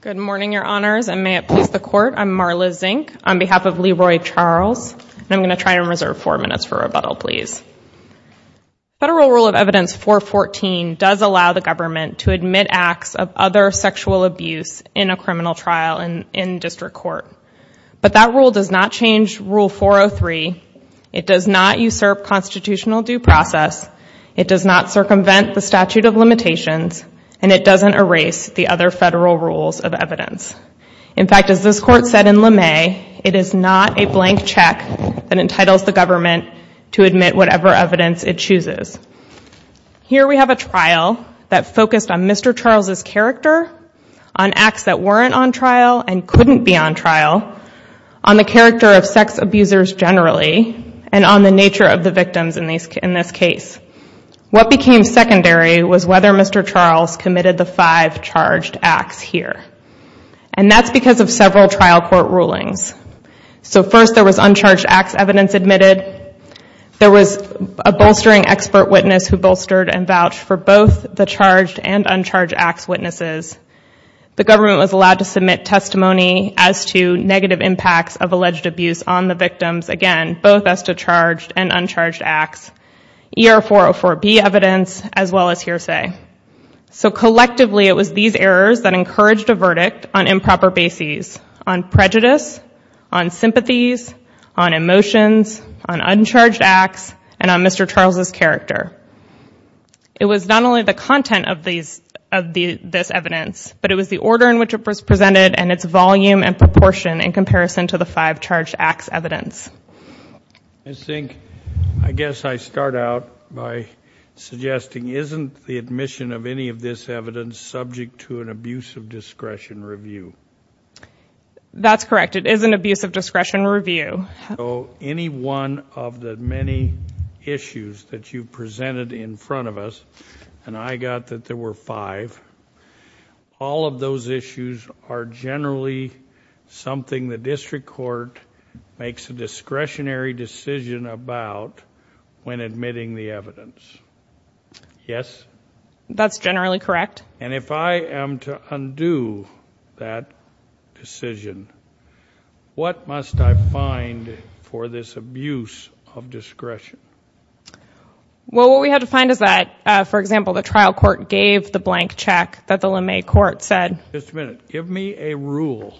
Good morning your honors and may it please the court I'm Marla Zink on behalf of Leroy Charles and I'm going to try and reserve four minutes for rebuttal please. Federal Rule of Evidence 414 does allow the government to admit acts of other sexual abuse in a criminal trial and in district court but that rule does not change rule 403, it does not usurp constitutional due process, it does not circumvent the statute of limitations, and it doesn't erase the other federal rules of evidence. In fact as this court said in LeMay, it is not a blank check that entitles the government to admit whatever evidence it chooses. Here we have a trial that focused on Mr. Charles's character, on acts that weren't on trial and couldn't be on trial, on the character of sex abusers generally, and on the nature of the victims in this case. What became secondary was whether Mr. Charles committed the five charged acts here and that's because of several trial court rulings. So first there was uncharged acts evidence admitted, there was a bolstering expert witness who bolstered and vouched for both the charged and uncharged acts witnesses, the government was allowed to submit testimony as to negative impacts of alleged abuse on the victims, again so collectively it was these errors that encouraged a verdict on improper bases, on prejudice, on sympathies, on emotions, on uncharged acts, and on Mr. Charles's character. It was not only the content of these of the this evidence but it was the order in which it was presented and its volume and proportion in comparison to the five charged acts evidence. I think I guess I start out by suggesting isn't the admission of any of this evidence subject to an abuse of discretion review? That's correct it is an abuse of discretion review. So any one of the many issues that you presented in front of us, and I got that there were five, all of those issues are generally something the district court makes a decision? Yes. That's generally correct. And if I am to undo that decision, what must I find for this abuse of discretion? Well what we have to find is that, for example, the trial court gave the blank check that the LeMay court said. Just a minute, give me a rule,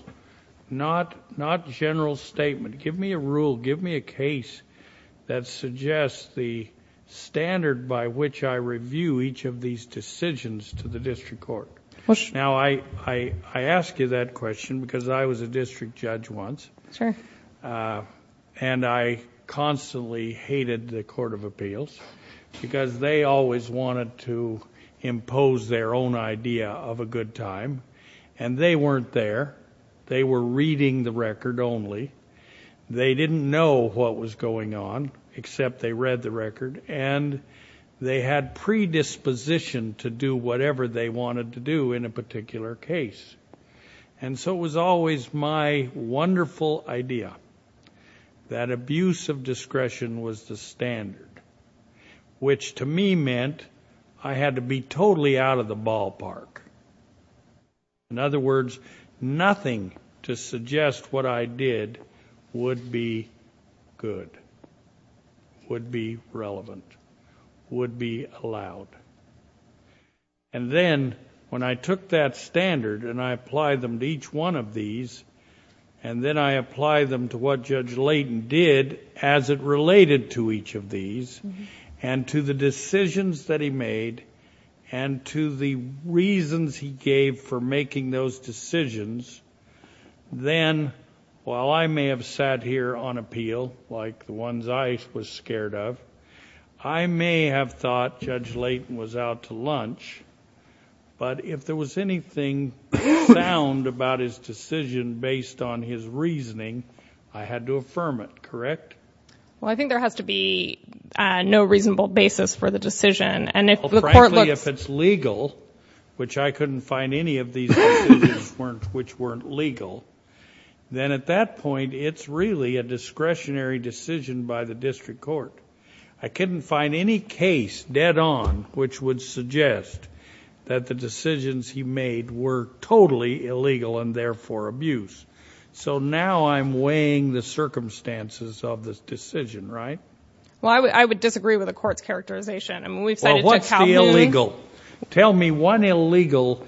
not not general statement, give me a rule, give me a case that suggests the standard by which I review each of these decisions to the district court. Now I ask you that question because I was a district judge once and I constantly hated the court of appeals because they always wanted to impose their own idea of a good time and they weren't there. They were reading the record only. They didn't know what was going on except they read the record and they had predisposition to do whatever they wanted to do in a particular case. And so it was always my wonderful idea that abuse of discretion was the standard, which to me meant I had to be totally out of the ballpark. In other words, to suggest what I did would be good, would be relevant, would be allowed. And then when I took that standard and I applied them to each one of these and then I applied them to what Judge Layton did as it related to each of these and to the decisions that he made and to the reasons he gave for them, while I may have sat here on appeal like the ones I was scared of, I may have thought Judge Layton was out to lunch, but if there was anything sound about his decision based on his reasoning, I had to affirm it, correct? Well, I think there has to be no reasonable basis for the decision and if the court looks... Well, frankly, if it's legal, which I couldn't find any of these decisions which weren't legal, then at that point it's really a discretionary decision by the district court. I couldn't find any case dead on which would suggest that the decisions he made were totally illegal and therefore abuse. So now I'm weighing the circumstances of this decision, right? Well, I would disagree with the court's characterization. I mean, we've decided to... Tell me one illegal,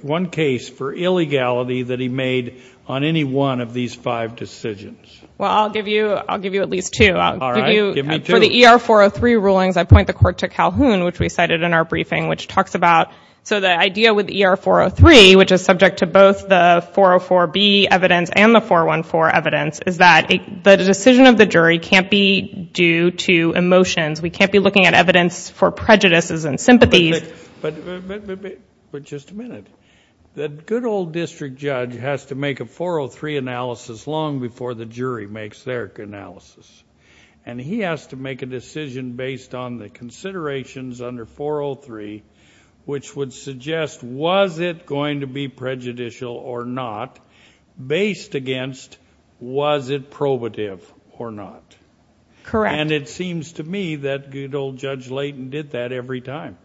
one case for illegality that he made on any one of these five decisions. Well, I'll give you at least two. All right, give me two. For the ER-403 rulings, I point the court to Calhoun, which we cited in our briefing, which talks about... So the idea with ER-403, which is subject to both the 404B evidence and the 414 evidence, is that the decision of the jury can't be due to emotions. We can't be looking at evidence for prejudices and sympathies. But just a minute. The good old district judge has to make a 403 analysis long before the jury makes their analysis, and he has to make a decision based on the considerations under 403, which would suggest was it going to be prejudicial or not, based against was it probative or not. Correct. And it seems to me that good old Judge Layton did that every time.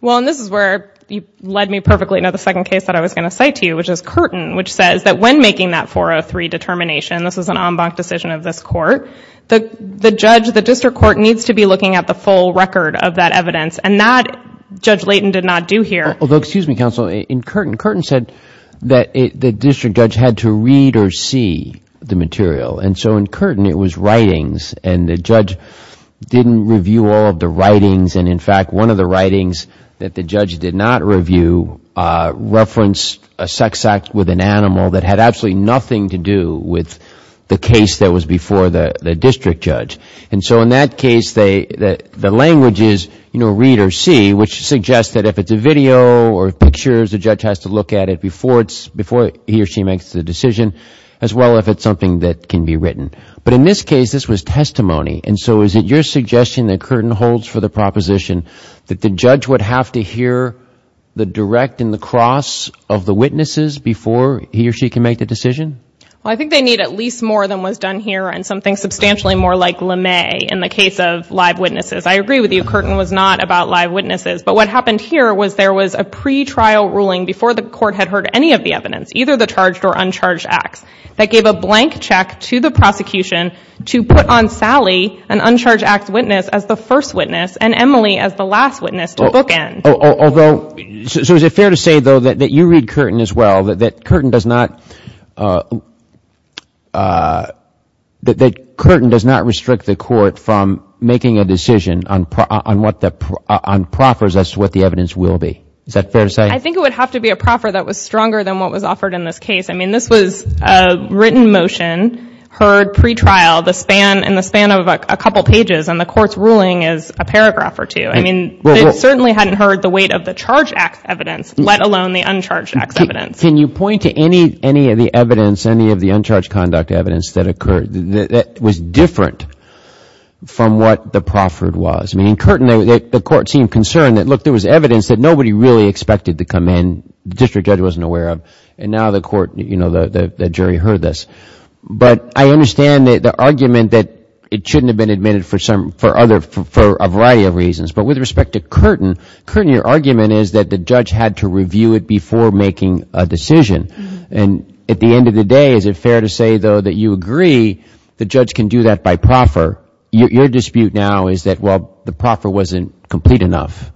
Well, and this is where you led me perfectly to the second case that I was going to cite to you, which is Curtin, which says that when making that 403 determination, this is an en banc decision of this court, the judge, the district court, needs to be looking at the full record of that evidence, and that Judge Layton did not do here. Although, excuse me, counsel, in Curtin, Curtin said that the district judge had to read or see the material, and so in Curtin, it was writings, and the judge didn't review all of the writings, and in fact, one of the writings that the judge did not review referenced a sex act with an animal that had absolutely nothing to do with the case that was before the district judge. And so in that case, the language is, you know, read or see, which suggests that if it's a video or pictures, the judge has to look at it before he or she makes the decision, as well if it's something that can be written. But in this case, this was testimony, and so is it your suggestion that Curtin holds for the proposition that the judge would have to hear the direct and the cross of the witnesses before he or she can make the decision? Well, I think they need at least more than was done here, and something substantially more like LeMay in the case of live witnesses. I agree with you, Curtin was not about live witnesses, but what happened here was there was a pretrial ruling before the court had heard any of the evidence, either the charged or uncharged acts, that gave a blank check to the prosecution to put on Sally, an uncharged act witness, as the first witness, and Emily as the last witness to bookend. Although, so is it fair to say, though, that you read Curtin as well, that Curtin does not, that Curtin does not restrict the court from making a decision on proffers as to what the evidence will be? Is that fair to say? I think it would have to be a proffer that was stronger than what was offered in this case. I mean, this was a written motion, heard pretrial in the span of a couple pages, and the court's ruling is a paragraph or two. I mean, they certainly hadn't heard the weight of the charged acts evidence, let alone the uncharged acts evidence. But can you point to any of the evidence, any of the uncharged conduct evidence that occurred that was different from what the proffered was? I mean, in Curtin, the court seemed concerned that, look, there was evidence that nobody really expected to come in, the district judge wasn't aware of, and now the court, you know, the jury heard this. But I understand the argument that it shouldn't have been admitted for some, for other, for a variety of reasons. But with respect to Curtin, Curtin, your argument is that the judge had to review it before making a decision. And at the end of the day, is it fair to say, though, that you agree the judge can do that by proffer? Your dispute now is that, well, the proffer wasn't complete enough.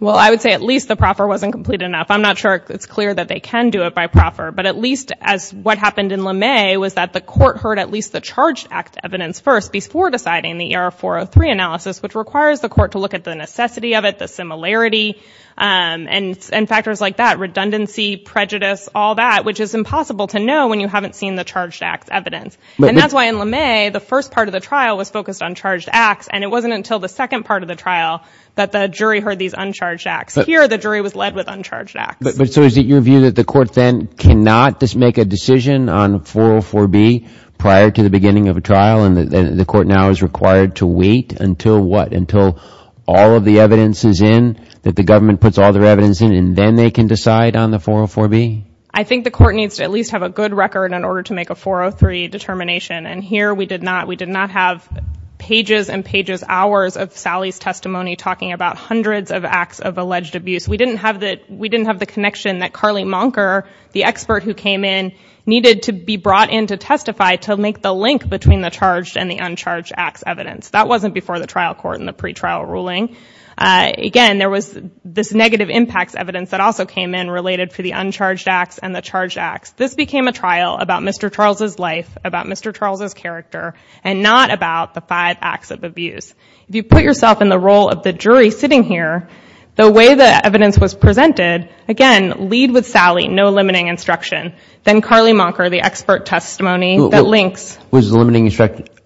Well, I would say at least the proffer wasn't complete enough. I'm not sure it's clear that they can do it by proffer. But at least as what happened in LeMay was that the court heard at least the charged act evidence first before deciding the ER-403 analysis, which requires the court to look at the necessity of it, the similarity, and factors like that, redundancy, prejudice, all that, which is impossible to know when you haven't seen the charged acts evidence. And that's why in LeMay, the first part of the trial was focused on charged acts. And it wasn't until the second part of the trial that the jury heard these uncharged acts. Here, the jury was led with uncharged acts. But so is it your view that the court then cannot just make a decision on 404B prior to the beginning of a trial, and the court now is required to wait until what? Until all of the evidence is in, that the government puts all their evidence in, and then they can decide on the 404B? I think the court needs to at least have a good record in order to make a 403 determination. And here we did not. We did not have pages and pages, hours of Sally's testimony talking about hundreds of acts of alleged abuse. We didn't have the connection that Carly Monker, the expert who came in, needed to be brought in to testify to make the link between the charged and the uncharged acts evidence. That wasn't before the trial court and the pretrial ruling. Again, there was this negative impacts evidence that also came in related to the uncharged acts and the charged acts. This became a trial about Mr. Charles's life, about Mr. Charles's character, and not about the five acts of abuse. If you put yourself in the role of the jury sitting here, the way the evidence was presented, again, lead with Sally, no limiting instruction. Then Carly Monker, the expert testimony that links. Was the limiting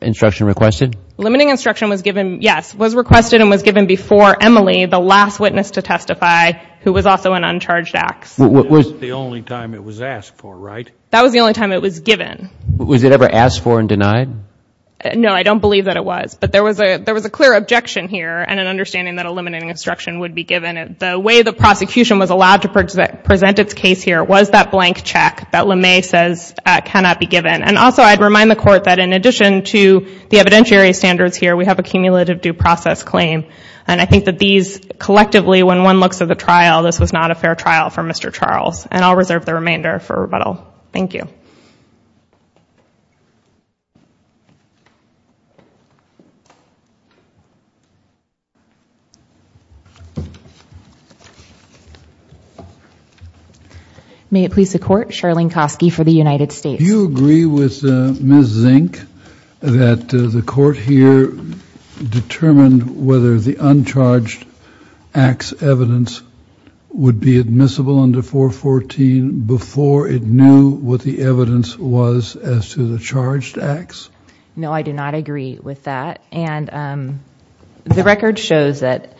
instruction requested? Limiting instruction was given, yes, was requested and was given before Emily, the last witness to testify, who was also an uncharged acts. It was the only time it was asked for, right? That was the only time it was given. Was it ever asked for and denied? No, I don't believe that it was. But there was a clear objection here and an understanding that a limiting instruction would be given. The way the prosecution was allowed to present its case here was that blank check that LeMay says cannot be given. And also, I'd remind the court that in addition to the evidentiary standards here, we have a cumulative due process claim. And I think that these, collectively, when one looks at the trial, this was not a fair trial for Mr. Charles. And I'll reserve the remainder for rebuttal. Thank you. May it please the court, Charlene Kosky for the United States. Do you agree with Ms. Zink that the court here determined whether the uncharged acts evidence would be admissible under 414 before it knew what the evidence was as to the charged acts? No, I do not agree with that. And the record shows that,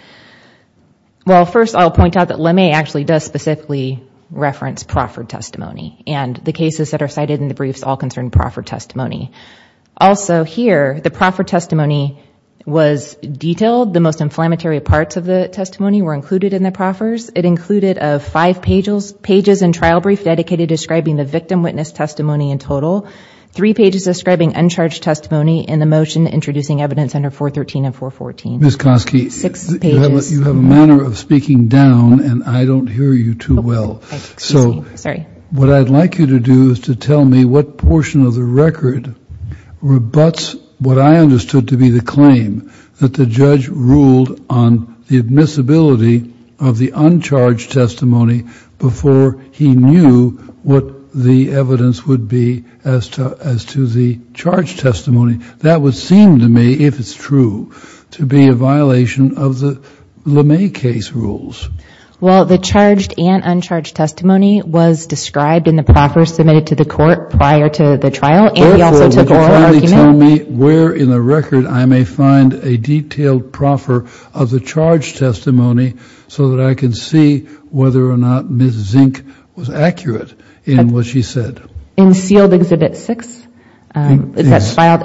well, first I'll point out that LeMay actually does specifically reference proffered testimony and the cases that are cited in the briefs all concern proffered testimony. Also, here, the proffered testimony was detailed. The most inflammatory parts of the testimony were included in the proffers. It included five pages and trial brief dedicated describing the victim witness testimony in motion introducing evidence under 413 and 414. Ms. Kosky, you have a manner of speaking down and I don't hear you too well. So what I'd like you to do is to tell me what portion of the record rebutts what I understood to be the claim that the judge ruled on the admissibility of the uncharged testimony before he knew what the evidence would be as to the charged testimony. That would seem to me, if it's true, to be a violation of the LeMay case rules. Well, the charged and uncharged testimony was described in the proffers submitted to the court prior to the trial and he also took oral argument. Therefore, would you kindly tell me where in the record I may find a detailed proffer of the charged testimony so that I can see whether or not Ms. Zink was accurate in what she said? In sealed exhibit 6? Yes. Yes, that's filed.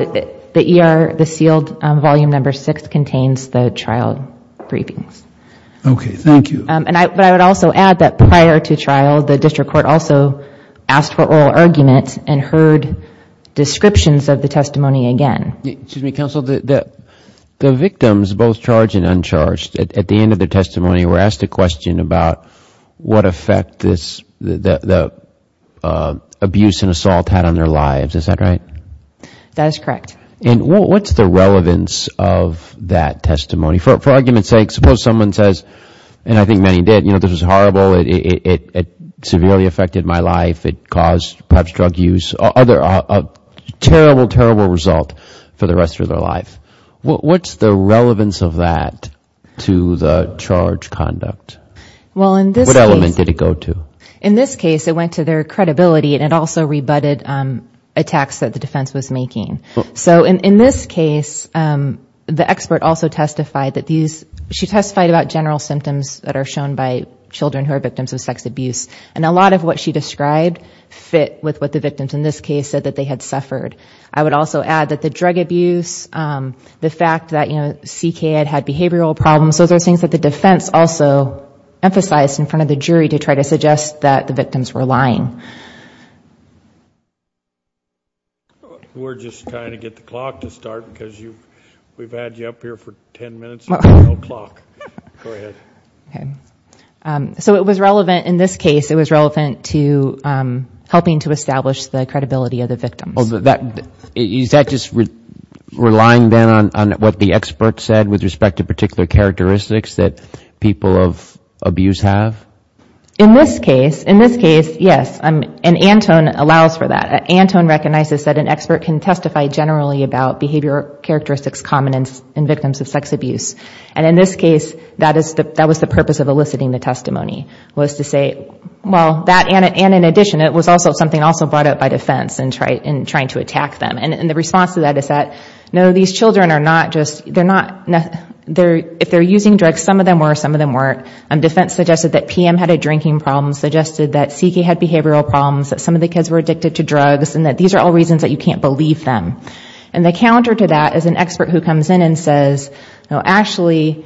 The ER, the sealed volume number 6 contains the trial briefings. Okay. Thank you. But I would also add that prior to trial, the district court also asked for oral argument and heard descriptions of the testimony again. Excuse me, counsel. The victims, both charged and uncharged, at the end of the testimony were asked a question about what effect the abuse and assault had on their lives. Is that right? That is correct. And what's the relevance of that testimony? For argument's sake, suppose someone says, and I think many did, you know, this was horrible, it severely affected my life, it caused perhaps drug use, a terrible, terrible result for the rest of their life. What's the relevance of that to the charge conduct? Well in this case What element did it go to? In this case, it went to their credibility and it also rebutted attacks that the defense was making. So in this case, the expert also testified that these, she testified about general symptoms that are shown by children who are victims of sex abuse. And a lot of what she described fit with what the victims in this case said that they had suffered. I would also add that the drug abuse, the fact that, you know, CK had behavioral problems, those are things that the defense also emphasized in front of the jury to try to suggest that the victims were lying. We're just trying to get the clock to start because we've had you up here for ten minutes and we don't have a clock. Go ahead. Okay. So it was relevant, in this case, it was relevant to helping to establish the credibility of the victims. Is that just relying then on what the expert said with respect to particular characteristics that people of abuse have? In this case, yes. And Antone allows for that. Antone recognizes that an expert can testify generally about behavioral characteristics common in victims of sex abuse. And in this case, that was the purpose of eliciting the testimony, was to say, well, that and in addition, it was also something brought up by defense in trying to attack them. And the response to that is that, no, these children are not just, they're not, if they're using drugs, some of them were, some of them weren't. Defense suggested that PM had a drinking problem, suggested that CK had behavioral problems, that some of the kids were addicted to drugs, and that these are all reasons that you can't believe them. And the counter to that is an expert who comes in and says, no, actually,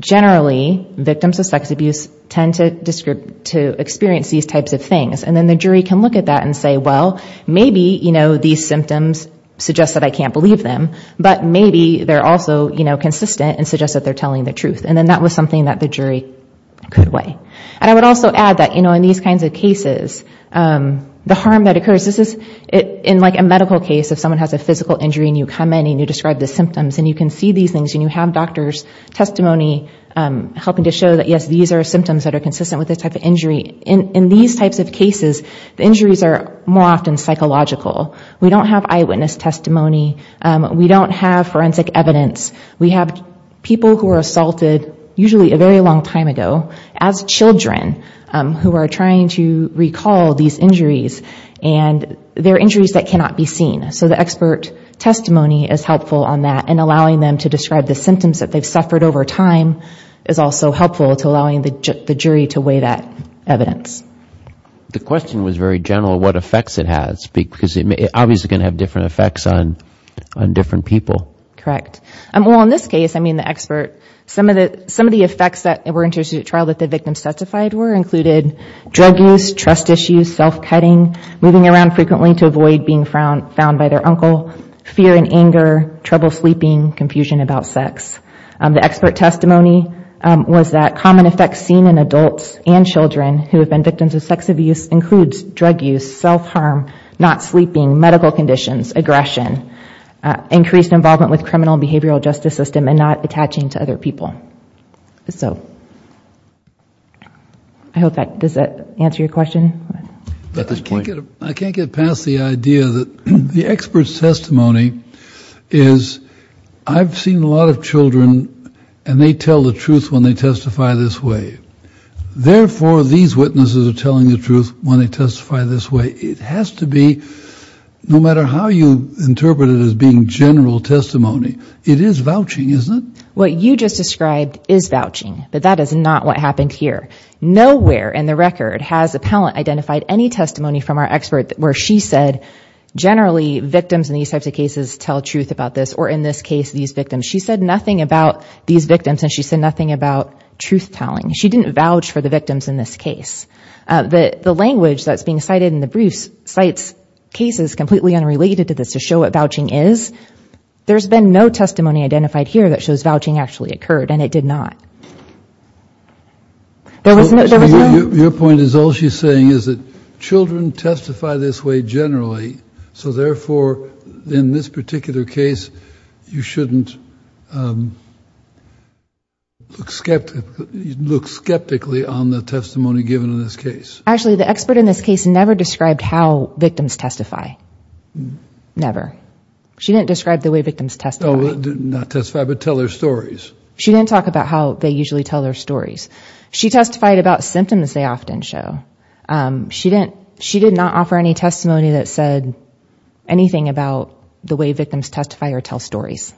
generally, victims of sex abuse tend to experience these types of things. And then the jury can look at that and say, well, maybe these symptoms suggest that I can't believe them, but maybe they're also consistent and suggest that they're telling the truth. And then that was something that the jury could weigh. And I would also add that in these kinds of cases, the harm that occurs, this is in like a medical case, if someone has a physical injury and you come in and you describe the symptoms and you can see these things and you have doctor's testimony helping to show that, yes, these are symptoms that are consistent with this type of injury. In these types of cases, the injuries are more often psychological. We don't have eyewitness testimony. We don't have forensic evidence. We have people who were assaulted, usually a very long time ago, as children who are trying to recall these injuries. And they're injuries that cannot be seen. Symptoms that they've suffered over time is also helpful to allowing the jury to weigh that evidence. The question was very general, what effects it has, because it obviously can have different effects on different people. Correct. Well, in this case, I mean the expert, some of the effects that were introduced at trial that the victims testified were included drug use, trust issues, self-cutting, moving around frequently to avoid being found by their uncle, fear and anger, trouble sleeping, confusion about sex. The expert testimony was that common effects seen in adults and children who have been victims of sex abuse includes drug use, self-harm, not sleeping, medical conditions, aggression, increased involvement with criminal and behavioral justice system and not attaching to other people. So I hope that does that answer your question? I can't get past the idea that the expert's testimony is, I've seen a lot of children and they tell the truth when they testify this way. Therefore, these witnesses are telling the truth when they testify this way. It has to be, no matter how you interpret it as being general testimony, it is vouching, isn't it? What you just described is vouching, but that is not what happened here. Nowhere in the record has a palant identified any testimony from our expert where she said generally victims in these types of cases tell truth about this or in this case these victims. She said nothing about these victims and she said nothing about truth telling. She didn't vouch for the victims in this case. The language that's being cited in the briefs cites cases completely unrelated to this to show what vouching is. There's been no testimony identified here that shows vouching actually occurred and it did not. Your point is all she's saying is that children testify this way generally, so therefore, in this particular case, you shouldn't look skeptically on the testimony given in this case. Actually, the expert in this case never described how victims testify, never. She didn't describe the way victims testify. Not testify, but tell their stories. She didn't talk about how they usually tell their stories. She testified about symptoms they often show. She did not offer any testimony that said anything about the way victims testify or tell stories.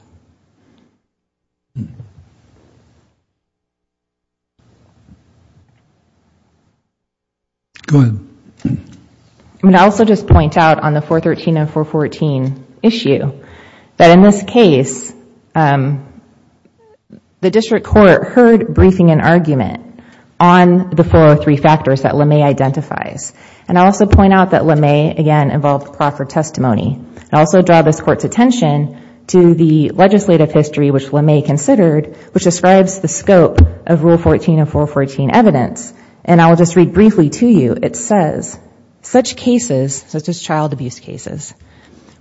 Go ahead. I would also just point out on the 413 and 414 issue that in this case, the district court heard briefing and argument on the four or three factors that LeMay identifies. I also point out that LeMay, again, involved proffered testimony. I also draw this court's attention to the legislative history which LeMay considered which describes the scope of Rule 14 and 414 evidence. I will just read briefly to you. It says, such cases, such as child abuse cases,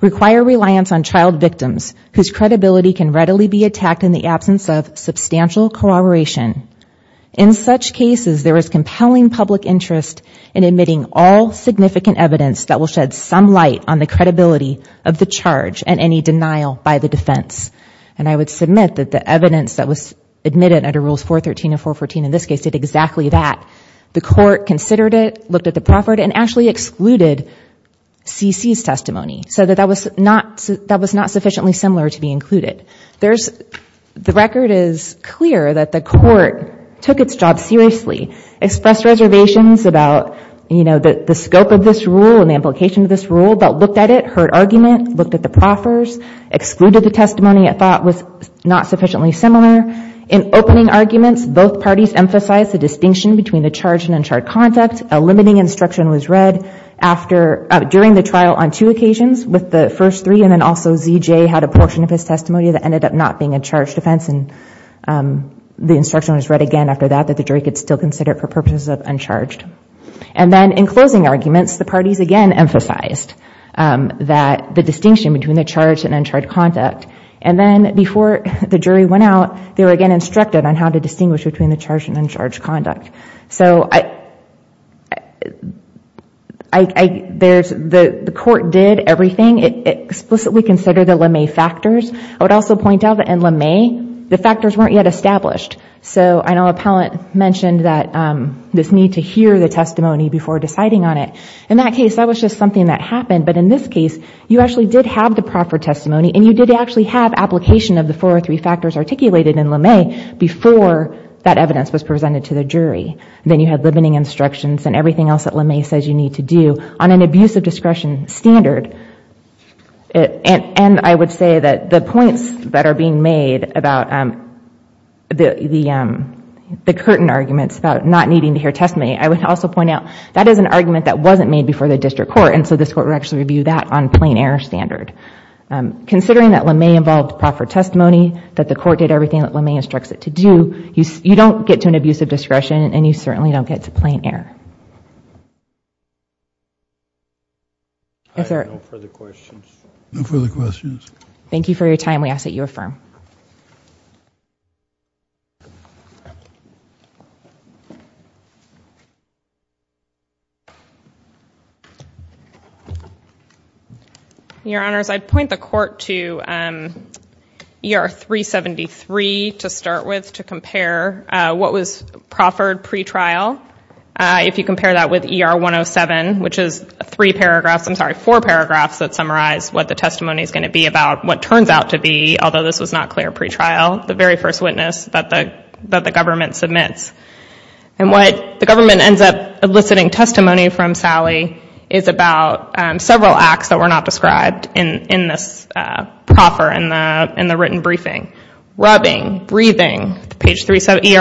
require reliance on child victims whose credibility can readily be attacked in the absence of substantial corroboration. In such cases, there is compelling public interest in admitting all significant evidence that will shed some light on the credibility of the charge and any denial by the defense. I would submit that the evidence that was admitted under Rules 413 and 414 in this case did exactly that. The court considered it, looked at the proffered, and actually excluded CC's testimony so that that was not sufficiently similar to be included. The record is clear that the court took its job seriously, expressed reservations about the scope of this rule and the implication of this rule, but looked at it, heard argument, looked at the proffers, excluded the testimony it thought was not sufficiently similar. In opening arguments, both parties emphasized the distinction between the charge and uncharged conduct. A limiting instruction was read during the trial on two occasions with the first three and then also ZJ had a portion of his testimony that ended up not being a charged offense and the instruction was read again after that that the jury could still consider it for purposes of uncharged. And then in closing arguments, the parties again emphasized the distinction between the charge and uncharged conduct. And then before the jury went out, they were again instructed on how to distinguish between the charge and uncharged conduct. So the court did everything, it explicitly considered the LeMay factors. I would also point out that in LeMay, the factors weren't yet established. So I know Appellant mentioned that this need to hear the testimony before deciding on it. In that case, that was just something that happened, but in this case, you actually did have the proffer testimony and you did actually have application of the four or three factors articulated in LeMay before that evidence was presented to the jury. Then you had limiting instructions and everything else that LeMay says you need to do on an abuse of discretion standard. And I would say that the points that are being made about the curtain arguments about not needing to hear testimony, I would also point out that is an argument that wasn't made before the district court. And so this court would actually review that on plain air standard. Considering that LeMay involved proffer testimony, that the court did everything that LeMay instructs it to do, you don't get to an abuse of discretion and you certainly don't get to plain air. Is there... Your Honors, I'd point the court to ER 373 to start with to compare what was proffered pre-trial. If you compare that with ER 107, which is three paragraphs, I'm sorry, four paragraphs that summarize what the testimony is going to be about what turns out to be, although this was not clear pre-trial, the very first witness that the government submits. And what the government ends up eliciting testimony from Sally is about several acts that were not described in this proffer in the written briefing. Rubbing, breathing, page ER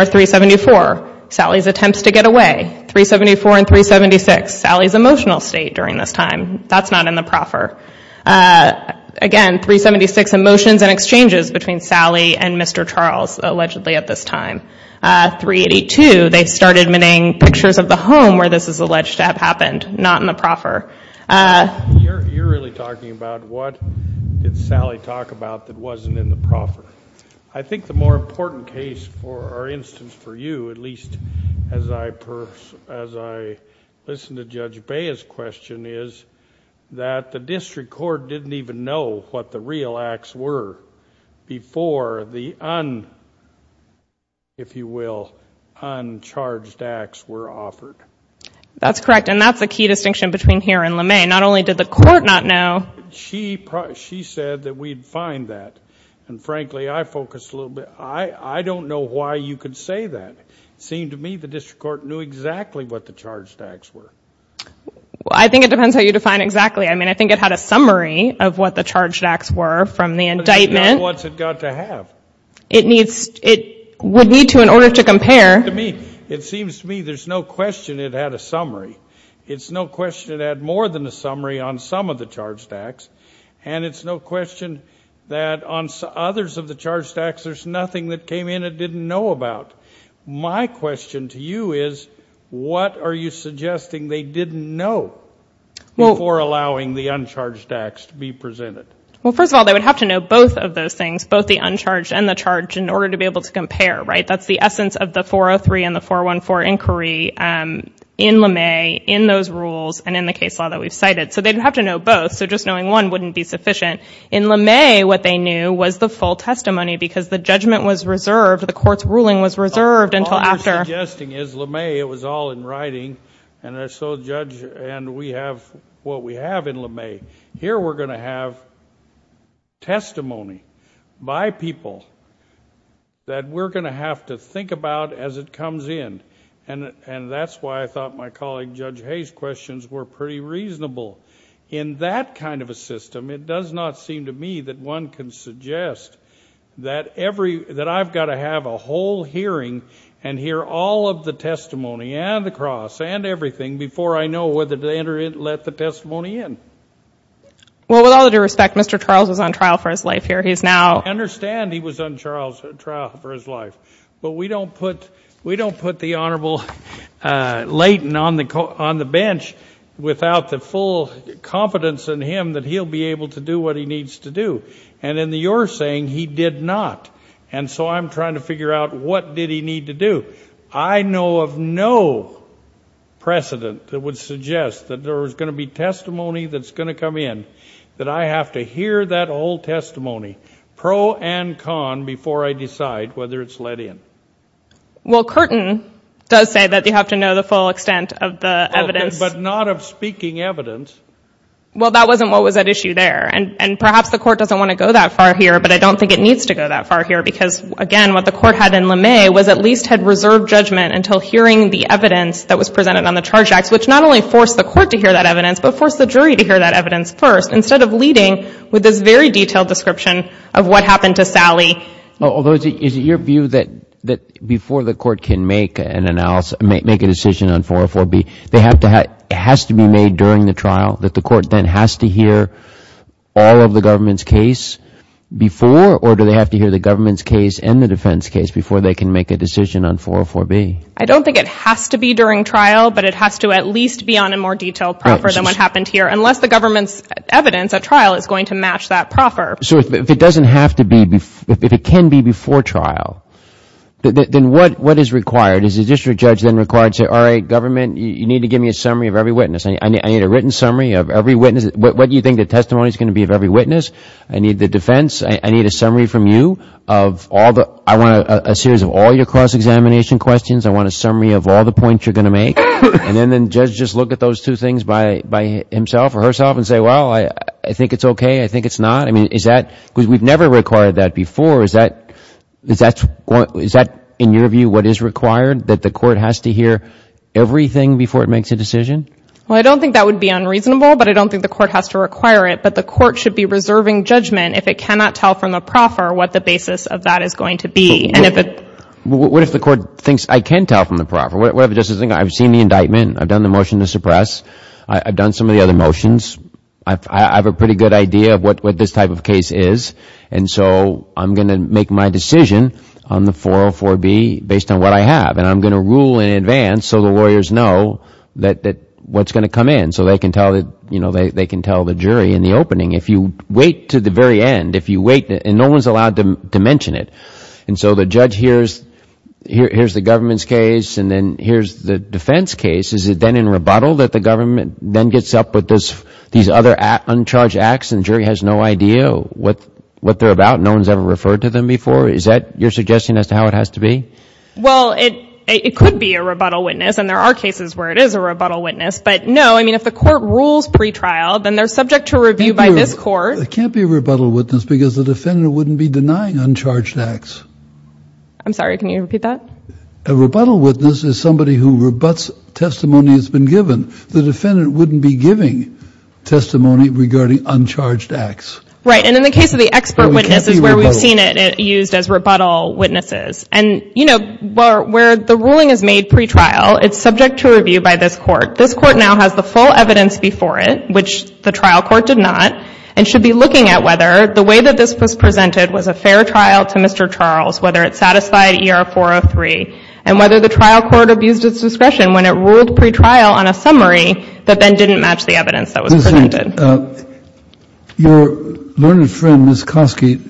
374, Sally's attempts to get away, 374 and 376, Sally's emotional state during this time. That's not in the proffer. Again, 376, emotions and exchanges between Sally and Mr. Charles, allegedly at this time. 382, they started admitting pictures of the home where this is alleged to have happened. Not in the proffer. You're really talking about what did Sally talk about that wasn't in the proffer. I think the more important case or instance for you, at least as I listen to Judge Bea's question, is that the district court didn't even know what the real acts were before the un, if you will, uncharged acts were offered. That's correct. And that's the key distinction between here and LeMay. Not only did the court not know. She said that we'd find that. And frankly, I focused a little bit, I don't know why you could say that. It seemed to me the district court knew exactly what the charged acts were. Well, I think it depends how you define exactly. I mean, I think it had a summary of what the charged acts were from the indictment. But it's not what it's got to have. It needs, it would need to in order to compare. To me, it seems to me there's no question it had a summary. It's no question it had more than a summary on some of the charged acts. And it's no question that on others of the charged acts, there's nothing that came in it didn't know about. My question to you is, what are you suggesting they didn't know before allowing the uncharged acts to be presented? Well, first of all, they would have to know both of those things, both the uncharged and the charged in order to be able to compare, right? That's the essence of the 403 and the 414 inquiry in LeMay in those rules and in the case law that we've cited. So they'd have to know both. So just knowing one wouldn't be sufficient. In LeMay, what they knew was the full testimony because the judgment was reserved. The court's ruling was reserved until after... All you're suggesting is LeMay, it was all in writing and so Judge and we have what we have in LeMay. Here we're going to have testimony by people that we're going to have to think about as it comes in and that's why I thought my colleague Judge Hayes' questions were pretty reasonable. In that kind of a system, it does not seem to me that one can suggest that every, that I've got to have a whole hearing and hear all of the testimony and the cross and everything before I know whether to let the testimony in. Well, with all due respect, Mr. Charles was on trial for his life here. He's now... I understand he was on trial for his life, but we don't put the Honorable Layton on the bench without the full confidence in him that he'll be able to do what he needs to do. And in your saying, he did not. And so I'm trying to figure out what did he need to do. I know of no precedent that would suggest that there was going to be testimony that's going to come in, that I have to hear that whole testimony, pro and con, before I decide whether it's let in. Well, Curtin does say that you have to know the full extent of the evidence. But not of speaking evidence. Well, that wasn't what was at issue there. And perhaps the Court doesn't want to go that far here, but I don't think it needs to go that far here because, again, what the Court had in LeMay was at least had reserved judgment until hearing the evidence that was presented on the charge acts, which not only forced the Court to hear that evidence, but forced the jury to hear that evidence first, instead of leading with this very detailed description of what happened to Sally. Although, is it your view that before the Court can make an analysis, make a decision on 404B, it has to be made during the trial, that the Court then has to hear all of the government's case before, or do they have to hear the government's case and the defense case before they can make a decision on 404B? I don't think it has to be during trial, but it has to at least be on a more detailed proffer than what happened here, unless the government's evidence at trial is going to match that proffer. So if it doesn't have to be, if it can be before trial, then what is required? Is the district judge then required to say, all right, government, you need to give me a summary of every witness, I need a written summary of every witness, what do you think the testimony is going to be of every witness, I need the defense, I need a summary from you of all the, I want a series of all your cross-examination questions, I want a summary of all the points you're going to make, and then the judge just look at those two things by himself or herself and say, well, I think it's okay, I think it's not? I mean, is that, because we've never required that before, is that, in your view, what is required, that the court has to hear everything before it makes a decision? Well, I don't think that would be unreasonable, but I don't think the court has to require it, but the court should be reserving judgment if it cannot tell from the proffer what the basis of that is going to be. What if the court thinks, I can tell from the proffer, what if it just says, I've seen the indictment, I've done the motion to suppress, I've done some of the other motions, I have a pretty good idea of what this type of case is, and so I'm going to make my decision on the 404B based on what I have, and I'm going to rule in advance so the lawyers know what's going to come in, so they can tell the jury in the opening. If you wait to the very end, if you wait, and no one's allowed to mention it, and so the judge hears the government's case and then hears the defense case, is it then in rebuttal that the government then gets up with these other uncharged acts and the jury has no idea what they're about, no one's ever referred to them before? Is that your suggestion as to how it has to be? Well, it could be a rebuttal witness, and there are cases where it is a rebuttal witness, but no, I mean, if the court rules pretrial, then they're subject to review by this court. It can't be a rebuttal witness because the defendant wouldn't be denying uncharged acts. I'm sorry, can you repeat that? A rebuttal witness is somebody who rebuts testimony that's been given. The defendant wouldn't be giving testimony regarding uncharged acts. Right. And in the case of the expert witness is where we've seen it used as rebuttal witnesses. And, you know, where the ruling is made pretrial, it's subject to review by this court. This court now has the full evidence before it, which the trial court did not, and should be looking at whether the way that this was presented was a fair trial to Mr. Charles, whether it satisfied ER 403, and whether the trial court abused its discretion when it ruled pretrial on a summary that then didn't match the evidence that was presented. Your learned friend, Ms. Kosky,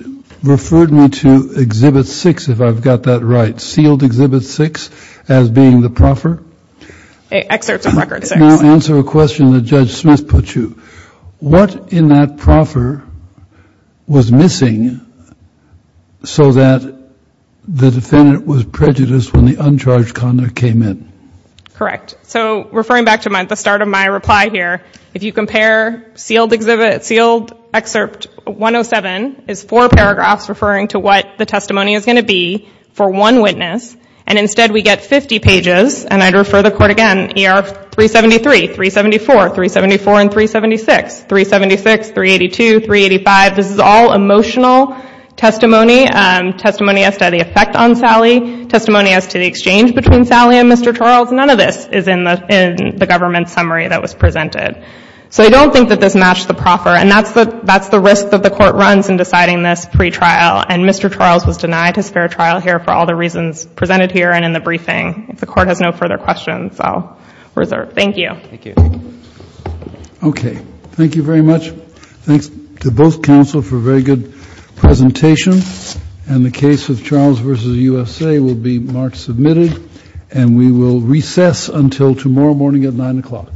referred me to Exhibit 6, if I've got that right. Sealed Exhibit 6 as being the proffer? Excerpts of Record 6. Now answer a question that Judge Smith put you. What in that proffer was missing so that the defendant was prejudiced when the uncharged conduct came in? Correct. So referring back to the start of my reply here, if you compare Sealed Excerpt 107 is four paragraphs referring to what the testimony is going to be for one witness, and instead we get 50 pages, and I'd refer the court again, ER 373, 374, 374, and 376. 376, 382, 385, this is all emotional testimony. Testimony as to the effect on Sally, testimony as to the exchange between Sally and Mr. Charles, none of this is in the government summary that was presented. So I don't think that this matched the proffer, and that's the risk that the Court runs in deciding this pretrial, and Mr. Charles was denied his fair trial here for all the reasons presented here and in the briefing. If the Court has no further questions, I'll reserve. Thank you. Thank you. Okay. Thank you very much. Thanks to both counsel for a very good presentation, and the case of Charles v. USA will be marked submitted, and we will recess until tomorrow morning at 9 o'clock.